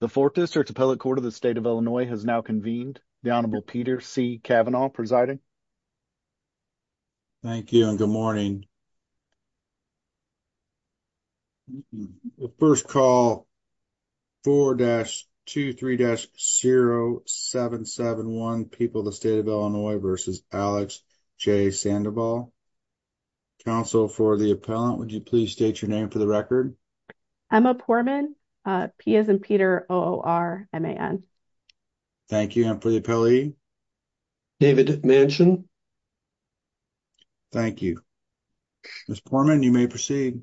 The 4th district appellate court of the state of Illinois has now convened the honorable Peter C. Cavanaugh presiding. Thank you and good morning 1st call. 4-23-0771 people, the state of Illinois versus Alex J. Sandoval. Counsel for the appellant, would you please state your name for the record? Emma Poorman, P as in Peter, O-O-R-M-A-N. Thank you and for the appellee, David Manchin. Thank you. Ms. Poorman, you may proceed.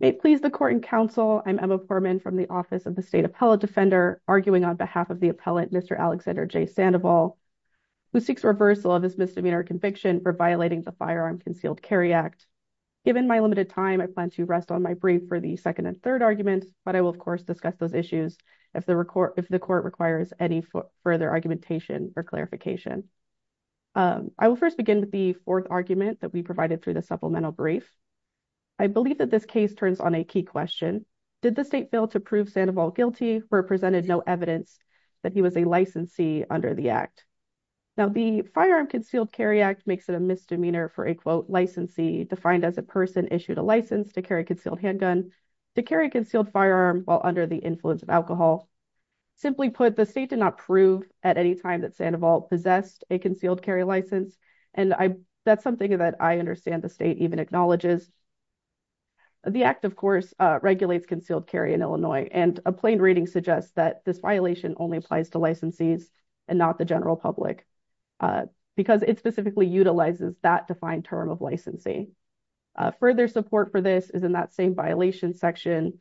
May it please the court and counsel, I'm Emma Poorman from the office of the state appellate defender arguing on behalf of the appellant Mr. Alexander J. Sandoval who seeks reversal of his misdemeanor conviction for violating the firearm concealed carry act. Given my limited time I plan to rest on my brief for the second and third argument but I will of course discuss those issues if the record if the court requires any further argumentation or clarification. I will first begin with the fourth argument that we provided through the supplemental brief. I believe that this case turns on a key question. Did the state fail to prove Sandoval guilty where presented no evidence that he was a licensee under the act? Now the firearm concealed carry act makes it a misdemeanor for a quote licensee defined as a person issued a license to carry a concealed handgun to carry a concealed firearm while under the influence of alcohol. Simply put the state did not prove at any time that Sandoval possessed a concealed carry license and I that's something that I understand the state even acknowledges. The act of course regulates concealed carry in Illinois and a plain reading suggests that this violation only applies to licensees and not the general public because it specifically utilizes that defined term of licensee. Further support for this is in that same violation section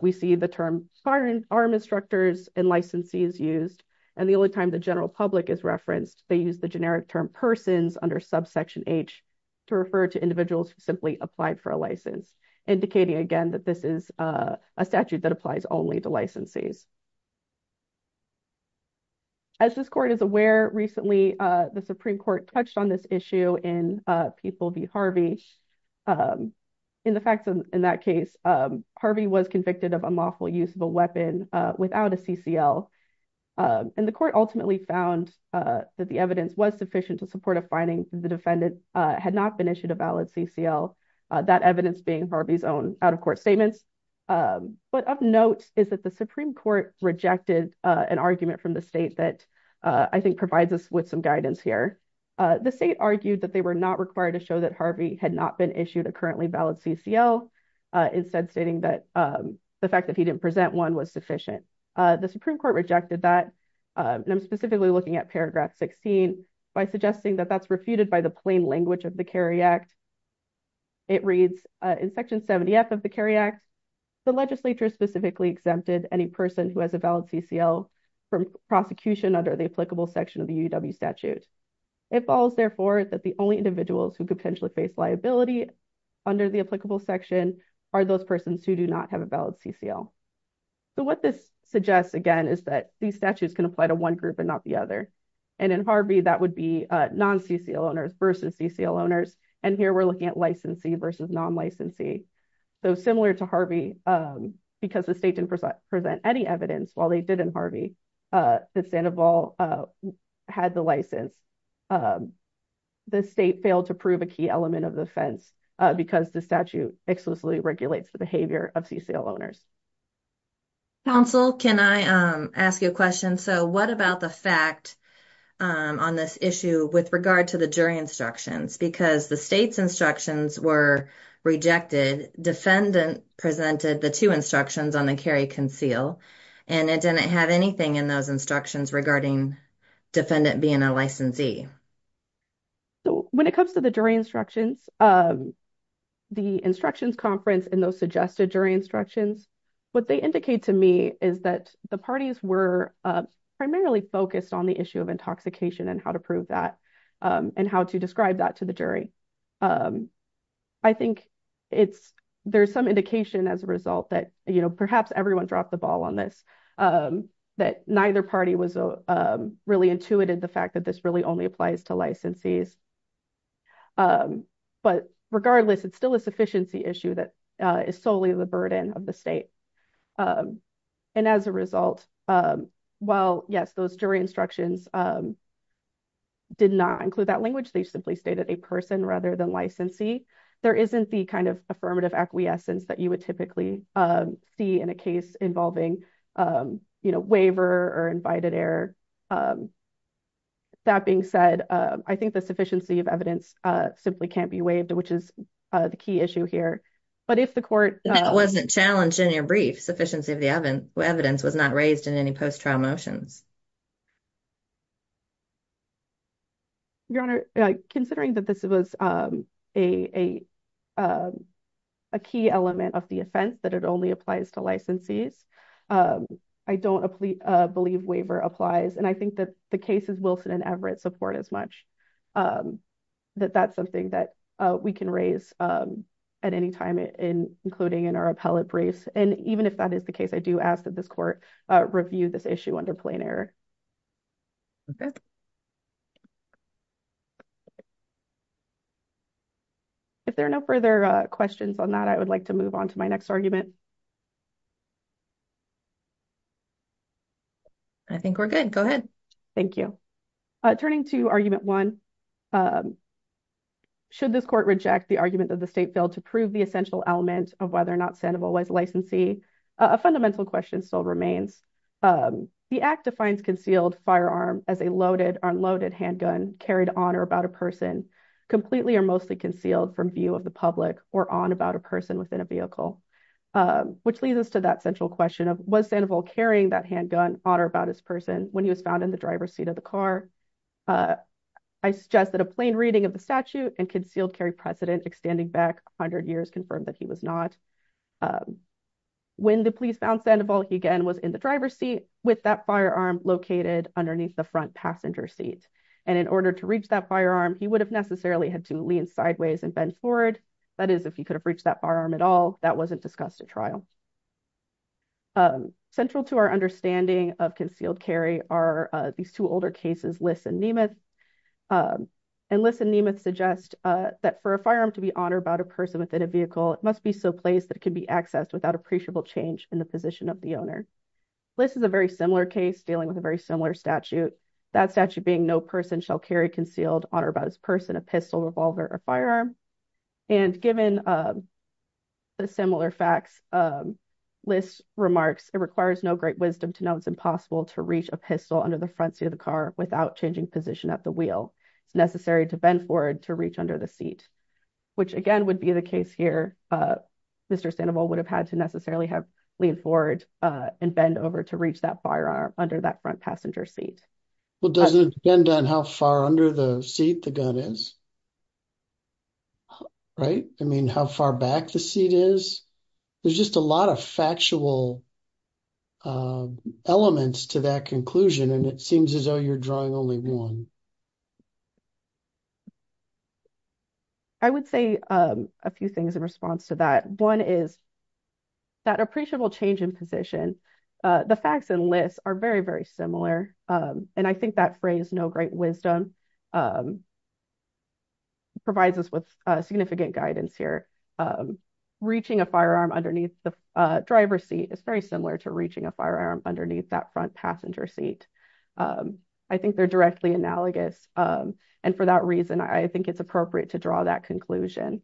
we see the term firearm instructors and licensees used and the only time the general public is referenced they use the generic term persons under subsection h to refer to individuals who simply applied for a license indicating again that this is a statute that applies only to licensees. As this court is aware recently the Supreme Court touched on this issue in People v Harvey in the facts in that case Harvey was convicted of unlawful use of a weapon without a CCL and the court ultimately found that the evidence was sufficient to support a finding the defendant had not been issued a valid CCL that evidence being Harvey's own out-of-court statements. What of note is that the Supreme Court rejected an argument from the state that I think provides us with some guidance here. The state argued that they were not required to show that Harvey had not been issued a currently valid CCL instead stating that the fact that he didn't present one was sufficient. The Supreme Court rejected that and I'm specifically looking at paragraph 16 by suggesting that that's refuted by the plain language of the carry act. It reads in section 70f of the carry act the legislature specifically exempted any person who has a valid CCL from prosecution under the applicable section of the UW statute. It falls therefore that the only individuals who could potentially face liability under the applicable section are those persons who do not have a valid CCL. So what this suggests again is that these statutes can apply to one group and not the other and in Harvey that would be non-CCL owners versus CCL owners and here we're looking at licensee versus non-licensee. Though similar to Harvey because the state didn't present any evidence while they did in Harvey that Sandoval had the license the state failed to prove a key element of the offense because the statute exclusively regulates the behavior of CCL owners. Counsel can I ask you a question? So what about the fact on this issue with regard to the jury instructions because the state's instructions were rejected defendant presented the two instructions on the carry conceal and it didn't have anything in those instructions regarding defendant being a licensee. So when it comes to the jury instructions the instructions conference and those suggested jury instructions what they indicate to me is that the parties were primarily focused on the issue of intoxication and how to prove that and how to describe that to the jury. I think it's there's some indication as a result that you know perhaps everyone dropped the ball on this that neither party was really intuited the fact that this really only applies to licensees but regardless it's still a sufficiency issue that is solely the burden of the state and as a result while yes those jury instructions did not include that language they simply stated a person rather than licensee. There isn't the kind of affirmative acquiescence that you would typically see in a case involving you know waiver or invited error. That being said I think the court wasn't challenged in your brief sufficiency of the evidence was not raised in any post-trial motions. Your honor considering that this was a key element of the offense that it only applies to licensees I don't believe waiver applies and I think that the cases Wilson and Everett support as much that that's something that we can raise at any time in including in our appellate briefs and even if that is the case I do ask that this court review this issue under plain error. If there are no further questions on that I would like to move on to my next argument. I think we're good go ahead. Thank you. Turning to argument one. Should this court reject the argument that the state failed to prove the essential element of whether or not Sandoval was a licensee? A fundamental question still remains. The act defines concealed firearm as a loaded unloaded handgun carried on or about a person completely or mostly concealed from view of the public or on about a person within a vehicle. Which leads us to that central question of was Sandoval carrying that handgun on or about his person when he was found in the driver's seat of the car? I suggest that a plain reading of the statute and concealed carry precedent extending back 100 years confirmed that he was not. When the police found Sandoval he again was in the driver's seat with that firearm located underneath the front passenger seat and in order to reach that firearm he would have necessarily had to lean sideways and bend forward that is if he could have reached that firearm at all that wasn't discussed at trial. Central to our understanding of concealed carry are these two older cases Liss and Nemeth. And Liss and Nemeth suggest that for a firearm to be on or about a person within a vehicle it must be so placed that it can be accessed without appreciable change in the position of the owner. Liss is a very similar case dealing with a very similar statute. That statute being no person shall carry concealed on or about his person a pistol, revolver, or firearm. And given the similar facts Liss remarks it requires no great wisdom to know it's impossible to reach a pistol under the front seat of the car without changing position at the wheel. It's necessary to bend forward to reach under the seat which again would be the case here. Mr. Sandoval would have had to necessarily have leaned forward and bend over to reach that firearm under that front passenger seat. Well doesn't it depend on how far under the gun is? Right? I mean how far back the seat is? There's just a lot of factual elements to that conclusion and it seems as though you're drawing only one. I would say a few things in response to that. One is that appreciable change in position. The facts in Liss are very very similar and I think that phrase no great wisdom provides us with significant guidance here. Reaching a firearm underneath the driver's seat is very similar to reaching a firearm underneath that front passenger seat. I think they're directly analogous and for that reason I think it's appropriate to draw that conclusion.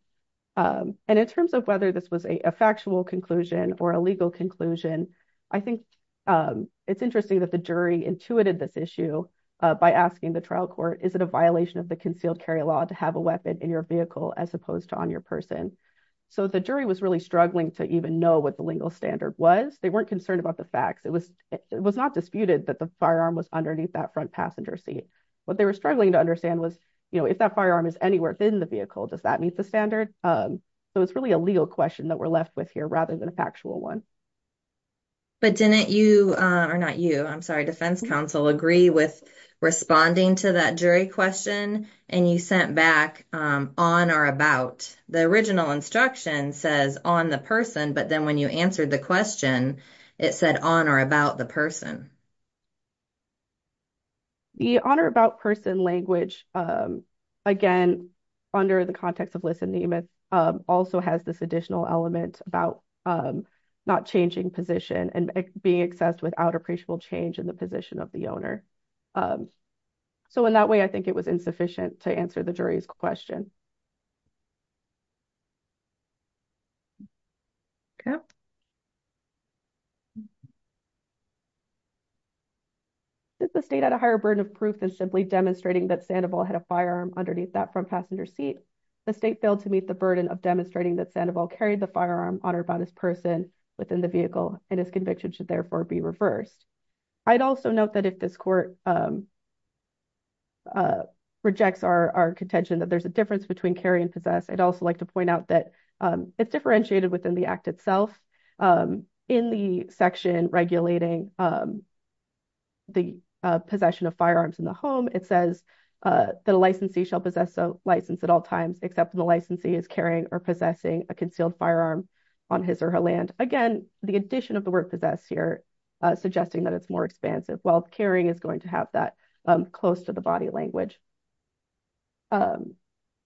And in terms of whether this was a factual conclusion or a legal conclusion I think it's interesting that the jury intuited this issue by asking the trial court is it a concealed carry law to have a weapon in your vehicle as opposed to on your person? So the jury was really struggling to even know what the legal standard was. They weren't concerned about the facts. It was it was not disputed that the firearm was underneath that front passenger seat. What they were struggling to understand was you know if that firearm is anywhere within the vehicle does that meet the standard? So it's really a legal question that we're left with here rather than a factual one. But didn't you or not you I'm sorry defense counsel agree with responding to that jury question and you sent back on or about? The original instruction says on the person but then when you answered the question it said on or about the person. The on or about person language again under the context of listening also has this additional element about not changing position and being accessed without appreciable change in the of the owner. So in that way I think it was insufficient to answer the jury's question. Okay. Since the state had a higher burden of proof than simply demonstrating that Sandoval had a firearm underneath that front passenger seat, the state failed to meet the burden of demonstrating that Sandoval carried the firearm on or about his person within the vehicle and his conviction should therefore be reversed. I'd also note that if this court rejects our contention that there's a difference between carry and possess I'd also like to point out that it's differentiated within the act itself. In the section regulating the possession of firearms in the home it says that a licensee shall possess a license at all times except when the licensee is carrying or possessing a concealed firearm on his or her land. Again the addition of the word possess here suggesting that it's more expansive while carrying is going to have that close to the body language.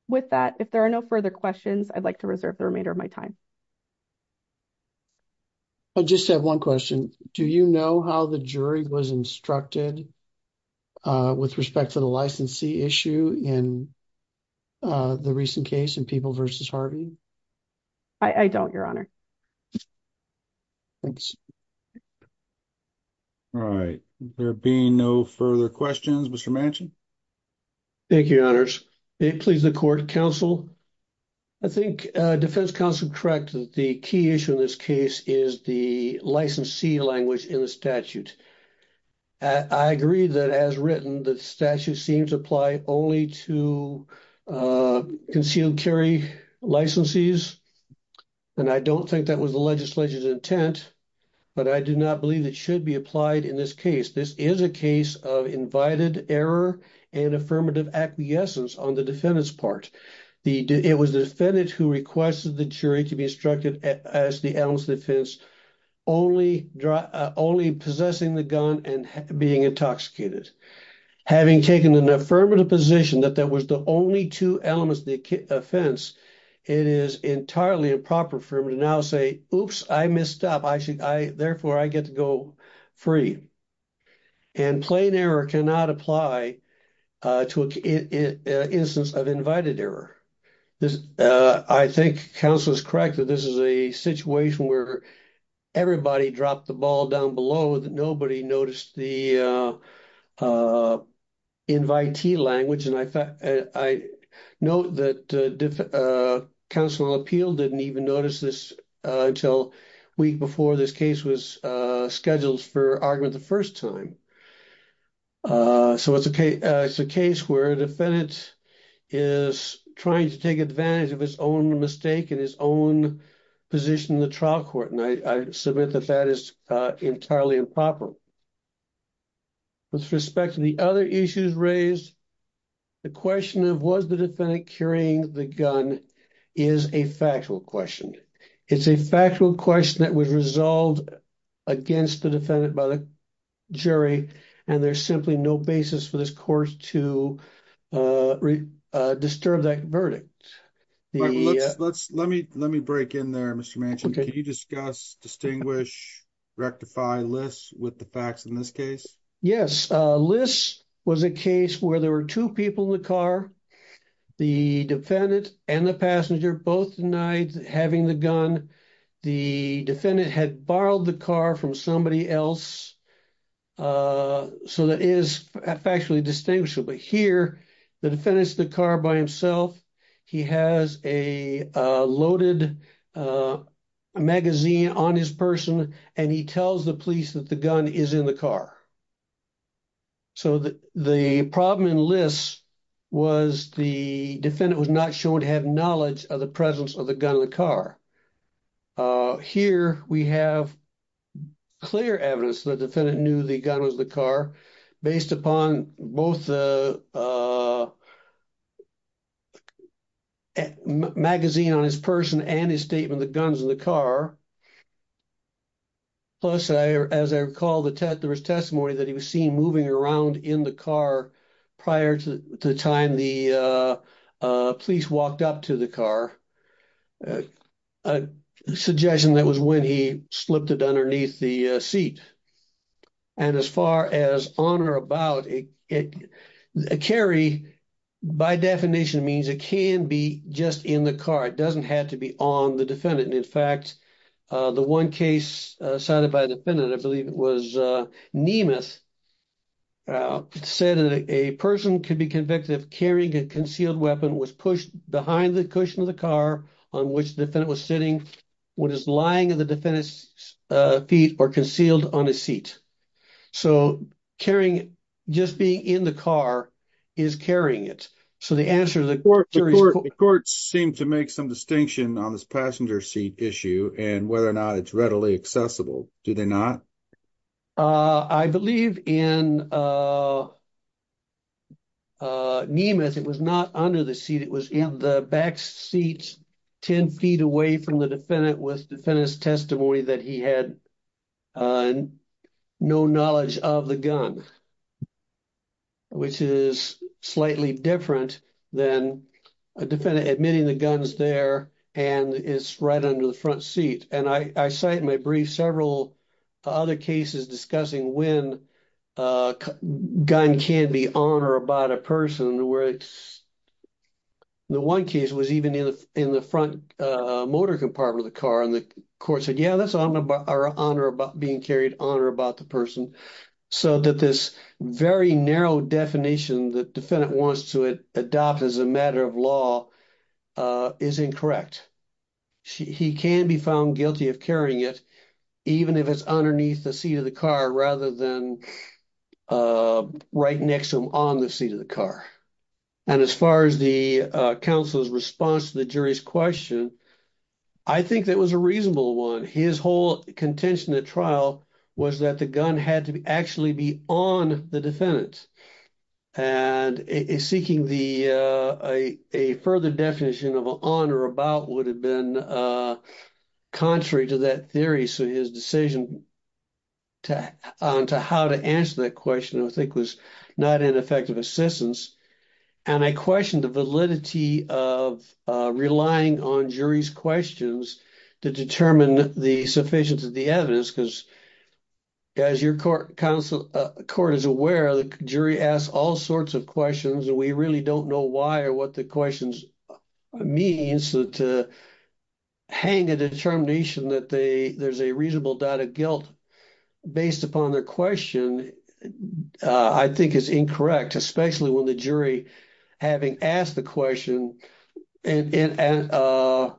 With that if there are no further questions I'd like to reserve the remainder of my time. I just have one question. Do you know how the jury was instructed with respect to the licensee issue in the recent case in People v. Harvey? I don't your honor. Thanks. All right there being no further questions Mr. Manchin. Thank you your honors. It please the court counsel. I think defense counsel correct that the key issue in this case is the licensee language in the statute. I agree that as written the statute seems to apply only to uh concealed carry licensees and I don't think that was the legislature's intent but I do not believe it should be applied in this case. This is a case of invited error and affirmative acquiescence on the defendant's part. It was the defendant who requested the jury to be instructed as the analyst of defense only possessing the gun and being intoxicated. Having taken an affirmative position that that was the only two elements of the offense, it is entirely improper for him to now say oops I missed up I should I therefore I get to go free and plain error cannot apply to a instance of invited error. I think counsel is correct that this is a situation where everybody dropped the ball down low that nobody noticed the uh uh invitee language and I thought I know that uh council appeal didn't even notice this until a week before this case was uh scheduled for argument the first time. Uh so it's a case it's a case where a defendant is trying to take advantage of his own mistake and his own position in the trial court and I submit that that is uh entirely improper. With respect to the other issues raised the question of was the defendant carrying the gun is a factual question. It's a factual question that was resolved against the defendant by the jury and there's simply no basis for this court to uh uh disturb that verdict. Let's let me let me break in there Mr. Manchin can you discuss distinguish rectify lists with the facts in this case? Yes uh this was a case where there were two people in the car the defendant and the passenger both denied having the gun the defendant had borrowed the car from somebody else uh so that is factually distinguishable but here the defendant's the car by himself he has a loaded uh magazine on his person and he tells the police that the gun is in the car. So the the problem in lists was the defendant was not shown to have knowledge of the gun in the car uh here we have clear evidence the defendant knew the gun was the car based upon both the uh magazine on his person and his statement the guns in the car plus I as I recall the test there was testimony that he was seen moving around in the car prior to the time the uh uh police walked up to the car a suggestion that was when he slipped it underneath the seat and as far as on or about it carry by definition means it can be just in the car it doesn't have to be on the defendant in fact the one case cited by the defendant I believe it was uh Nemeth said that a person could be convicted of carrying a concealed weapon was pushed behind the cushion of the car on which the defendant was sitting what is lying at the defendant's feet or concealed on a seat so carrying just being in the car is carrying it so the answer the court the court seemed to make some distinction on this passenger seat issue and whether or not it's readily accessible do they not uh I believe in uh uh Nemeth it was not under the seat it was in the back seat 10 feet away from the defendant with defendant's testimony that he had uh no knowledge of the gun which is slightly different than a defendant admitting the gun's there and it's right under the front seat and I cite my brief several other cases discussing when a gun can be on or about a person where it's the one case was even in the in the front uh motor compartment of the car and the court said yeah that's honor about being carried on or about the person so that this very narrow definition the defendant wants to adopt as a matter of law uh is incorrect he can be found guilty of carrying it even if it's underneath the seat of the car rather than uh right next to him on the seat of the car and as far as the uh counsel's response to the jury's question I think that was a reasonable one his whole contention at trial was that the gun had to actually be on the defendant and seeking the uh a further definition of on or about would have been uh contrary to that theory so his decision to on to how to answer that question I think was not an effective assistance and I questioned the validity of uh relying on jury's questions to determine the sufficiency of the evidence because as your court counsel court is aware the jury asks all sorts of questions and we really don't know why or what the questions means so to hang a determination that they there's a reasonable doubt of guilt based upon their question uh I think it's incorrect especially when the jury having asked the question and and uh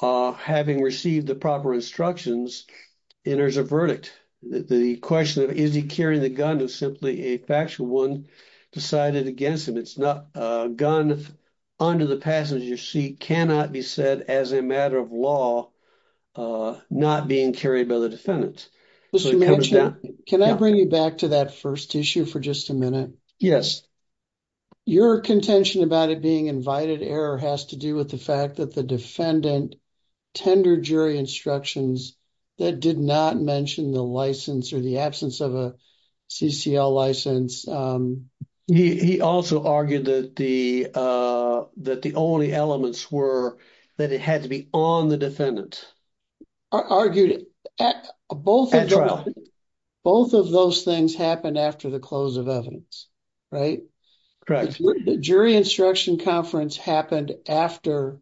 uh having received the proper instructions enters a verdict the question of is he carrying the gun is simply a factual one decided against him it's not a gun under the passenger seat cannot be said as a matter of law uh not being carried by the defendant can I bring you back to that first issue for just a minute yes your contention about it being invited error has to do with the fact that the defendant tendered jury instructions that did not mention the license or the absence of a ccl license um he also argued that the uh that the only elements were that it had to be on the defendant argued at both both of those things happened after the close of evidence right correct jury instruction conference happened after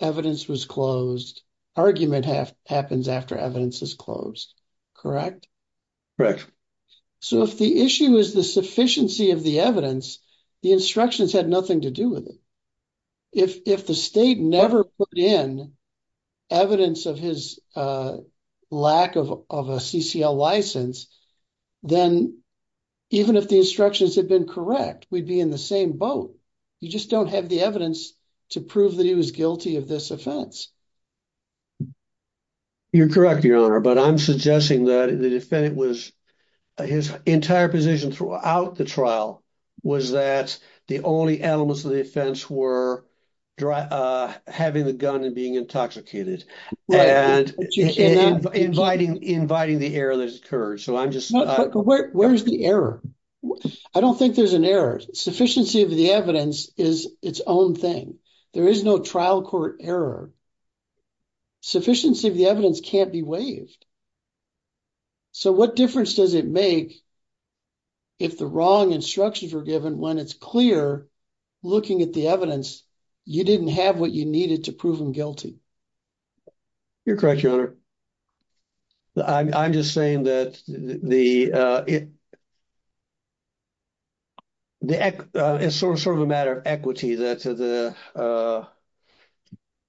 evidence was closed argument half happens after evidence is closed correct correct so if the issue is the sufficiency of the evidence the instructions had nothing to do with it if if the state never put in evidence of his uh lack of of a ccl license then even if the instructions had been correct we'd be in the same boat you just don't have the evidence to prove that he was guilty of this offense you're correct your honor but i'm suggesting that the defendant was his entire position throughout the trial was that the only elements of the offense were dry uh having the gun and being intoxicated and inviting inviting the error that occurred so i'm just where's the error i don't think there's an error sufficiency of the evidence is its own thing there is no trial court error sufficiency of the evidence can't be waived so what difference does it make if the wrong instructions were given when it's clear looking at the evidence you didn't have what you needed to prove him guilty you're correct your honor i'm just saying that the uh it the uh it's sort of a matter of equity that's the uh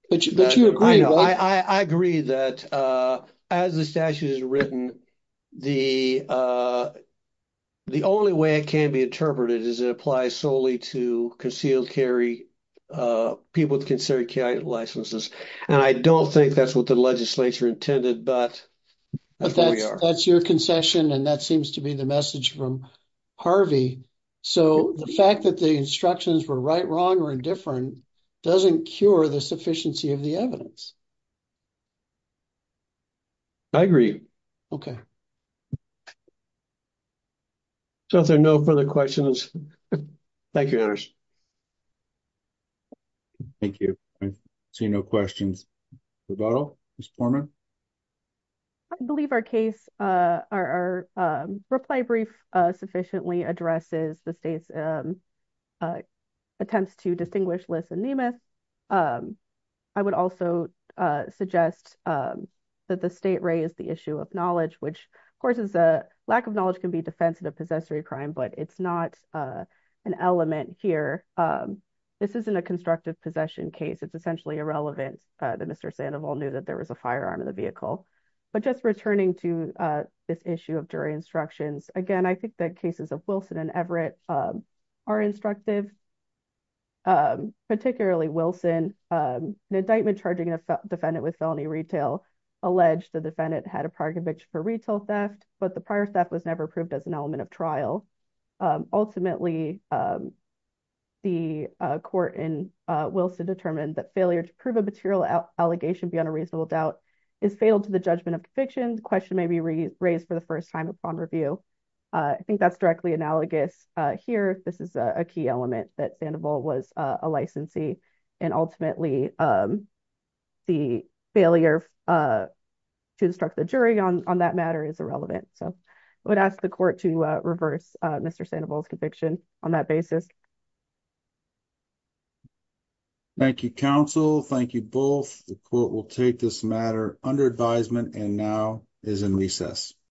but you agree i know i i agree that uh as the statute is written the uh the only way it can be interpreted is it applies solely to concealed carry uh people with considered licenses and i don't think that's what the legislature intended but that's where we are that's your concession and that seems to be the message from harvey so the fact that the instructions were right wrong or indifferent doesn't cure the sufficiency of the evidence i agree okay so if there are no further questions thank you thank you i see no questions i believe our case uh our um reply brief uh sufficiently addresses the state's um uh attempts to distinguish liss and nemeth um i would also uh suggest um that the state raise the issue of knowledge which of course is a lack of knowledge can be defensive of crime but it's not uh an element here um this isn't a constructive possession case it's essentially irrelevant uh that mr sandoval knew that there was a firearm in the vehicle but just returning to uh this issue of jury instructions again i think that cases of wilson and everett um are instructive um particularly wilson um the indictment charging a defendant with felony retail alleged the defendant had a prior conviction for retail theft but the prior theft was never approved as an element of trial ultimately the court in wilson determined that failure to prove a material allegation beyond a reasonable doubt is fatal to the judgment of conviction the question may be raised for the first time upon review i think that's directly analogous uh here this is a key element that sandoval was a licensee and ultimately um the failure uh to instruct the jury on on that matter is irrelevant so i would ask the court to uh reverse uh mr sandoval's conviction on that basis thank you counsel thank you both the court will take this matter under advisement and now is in recess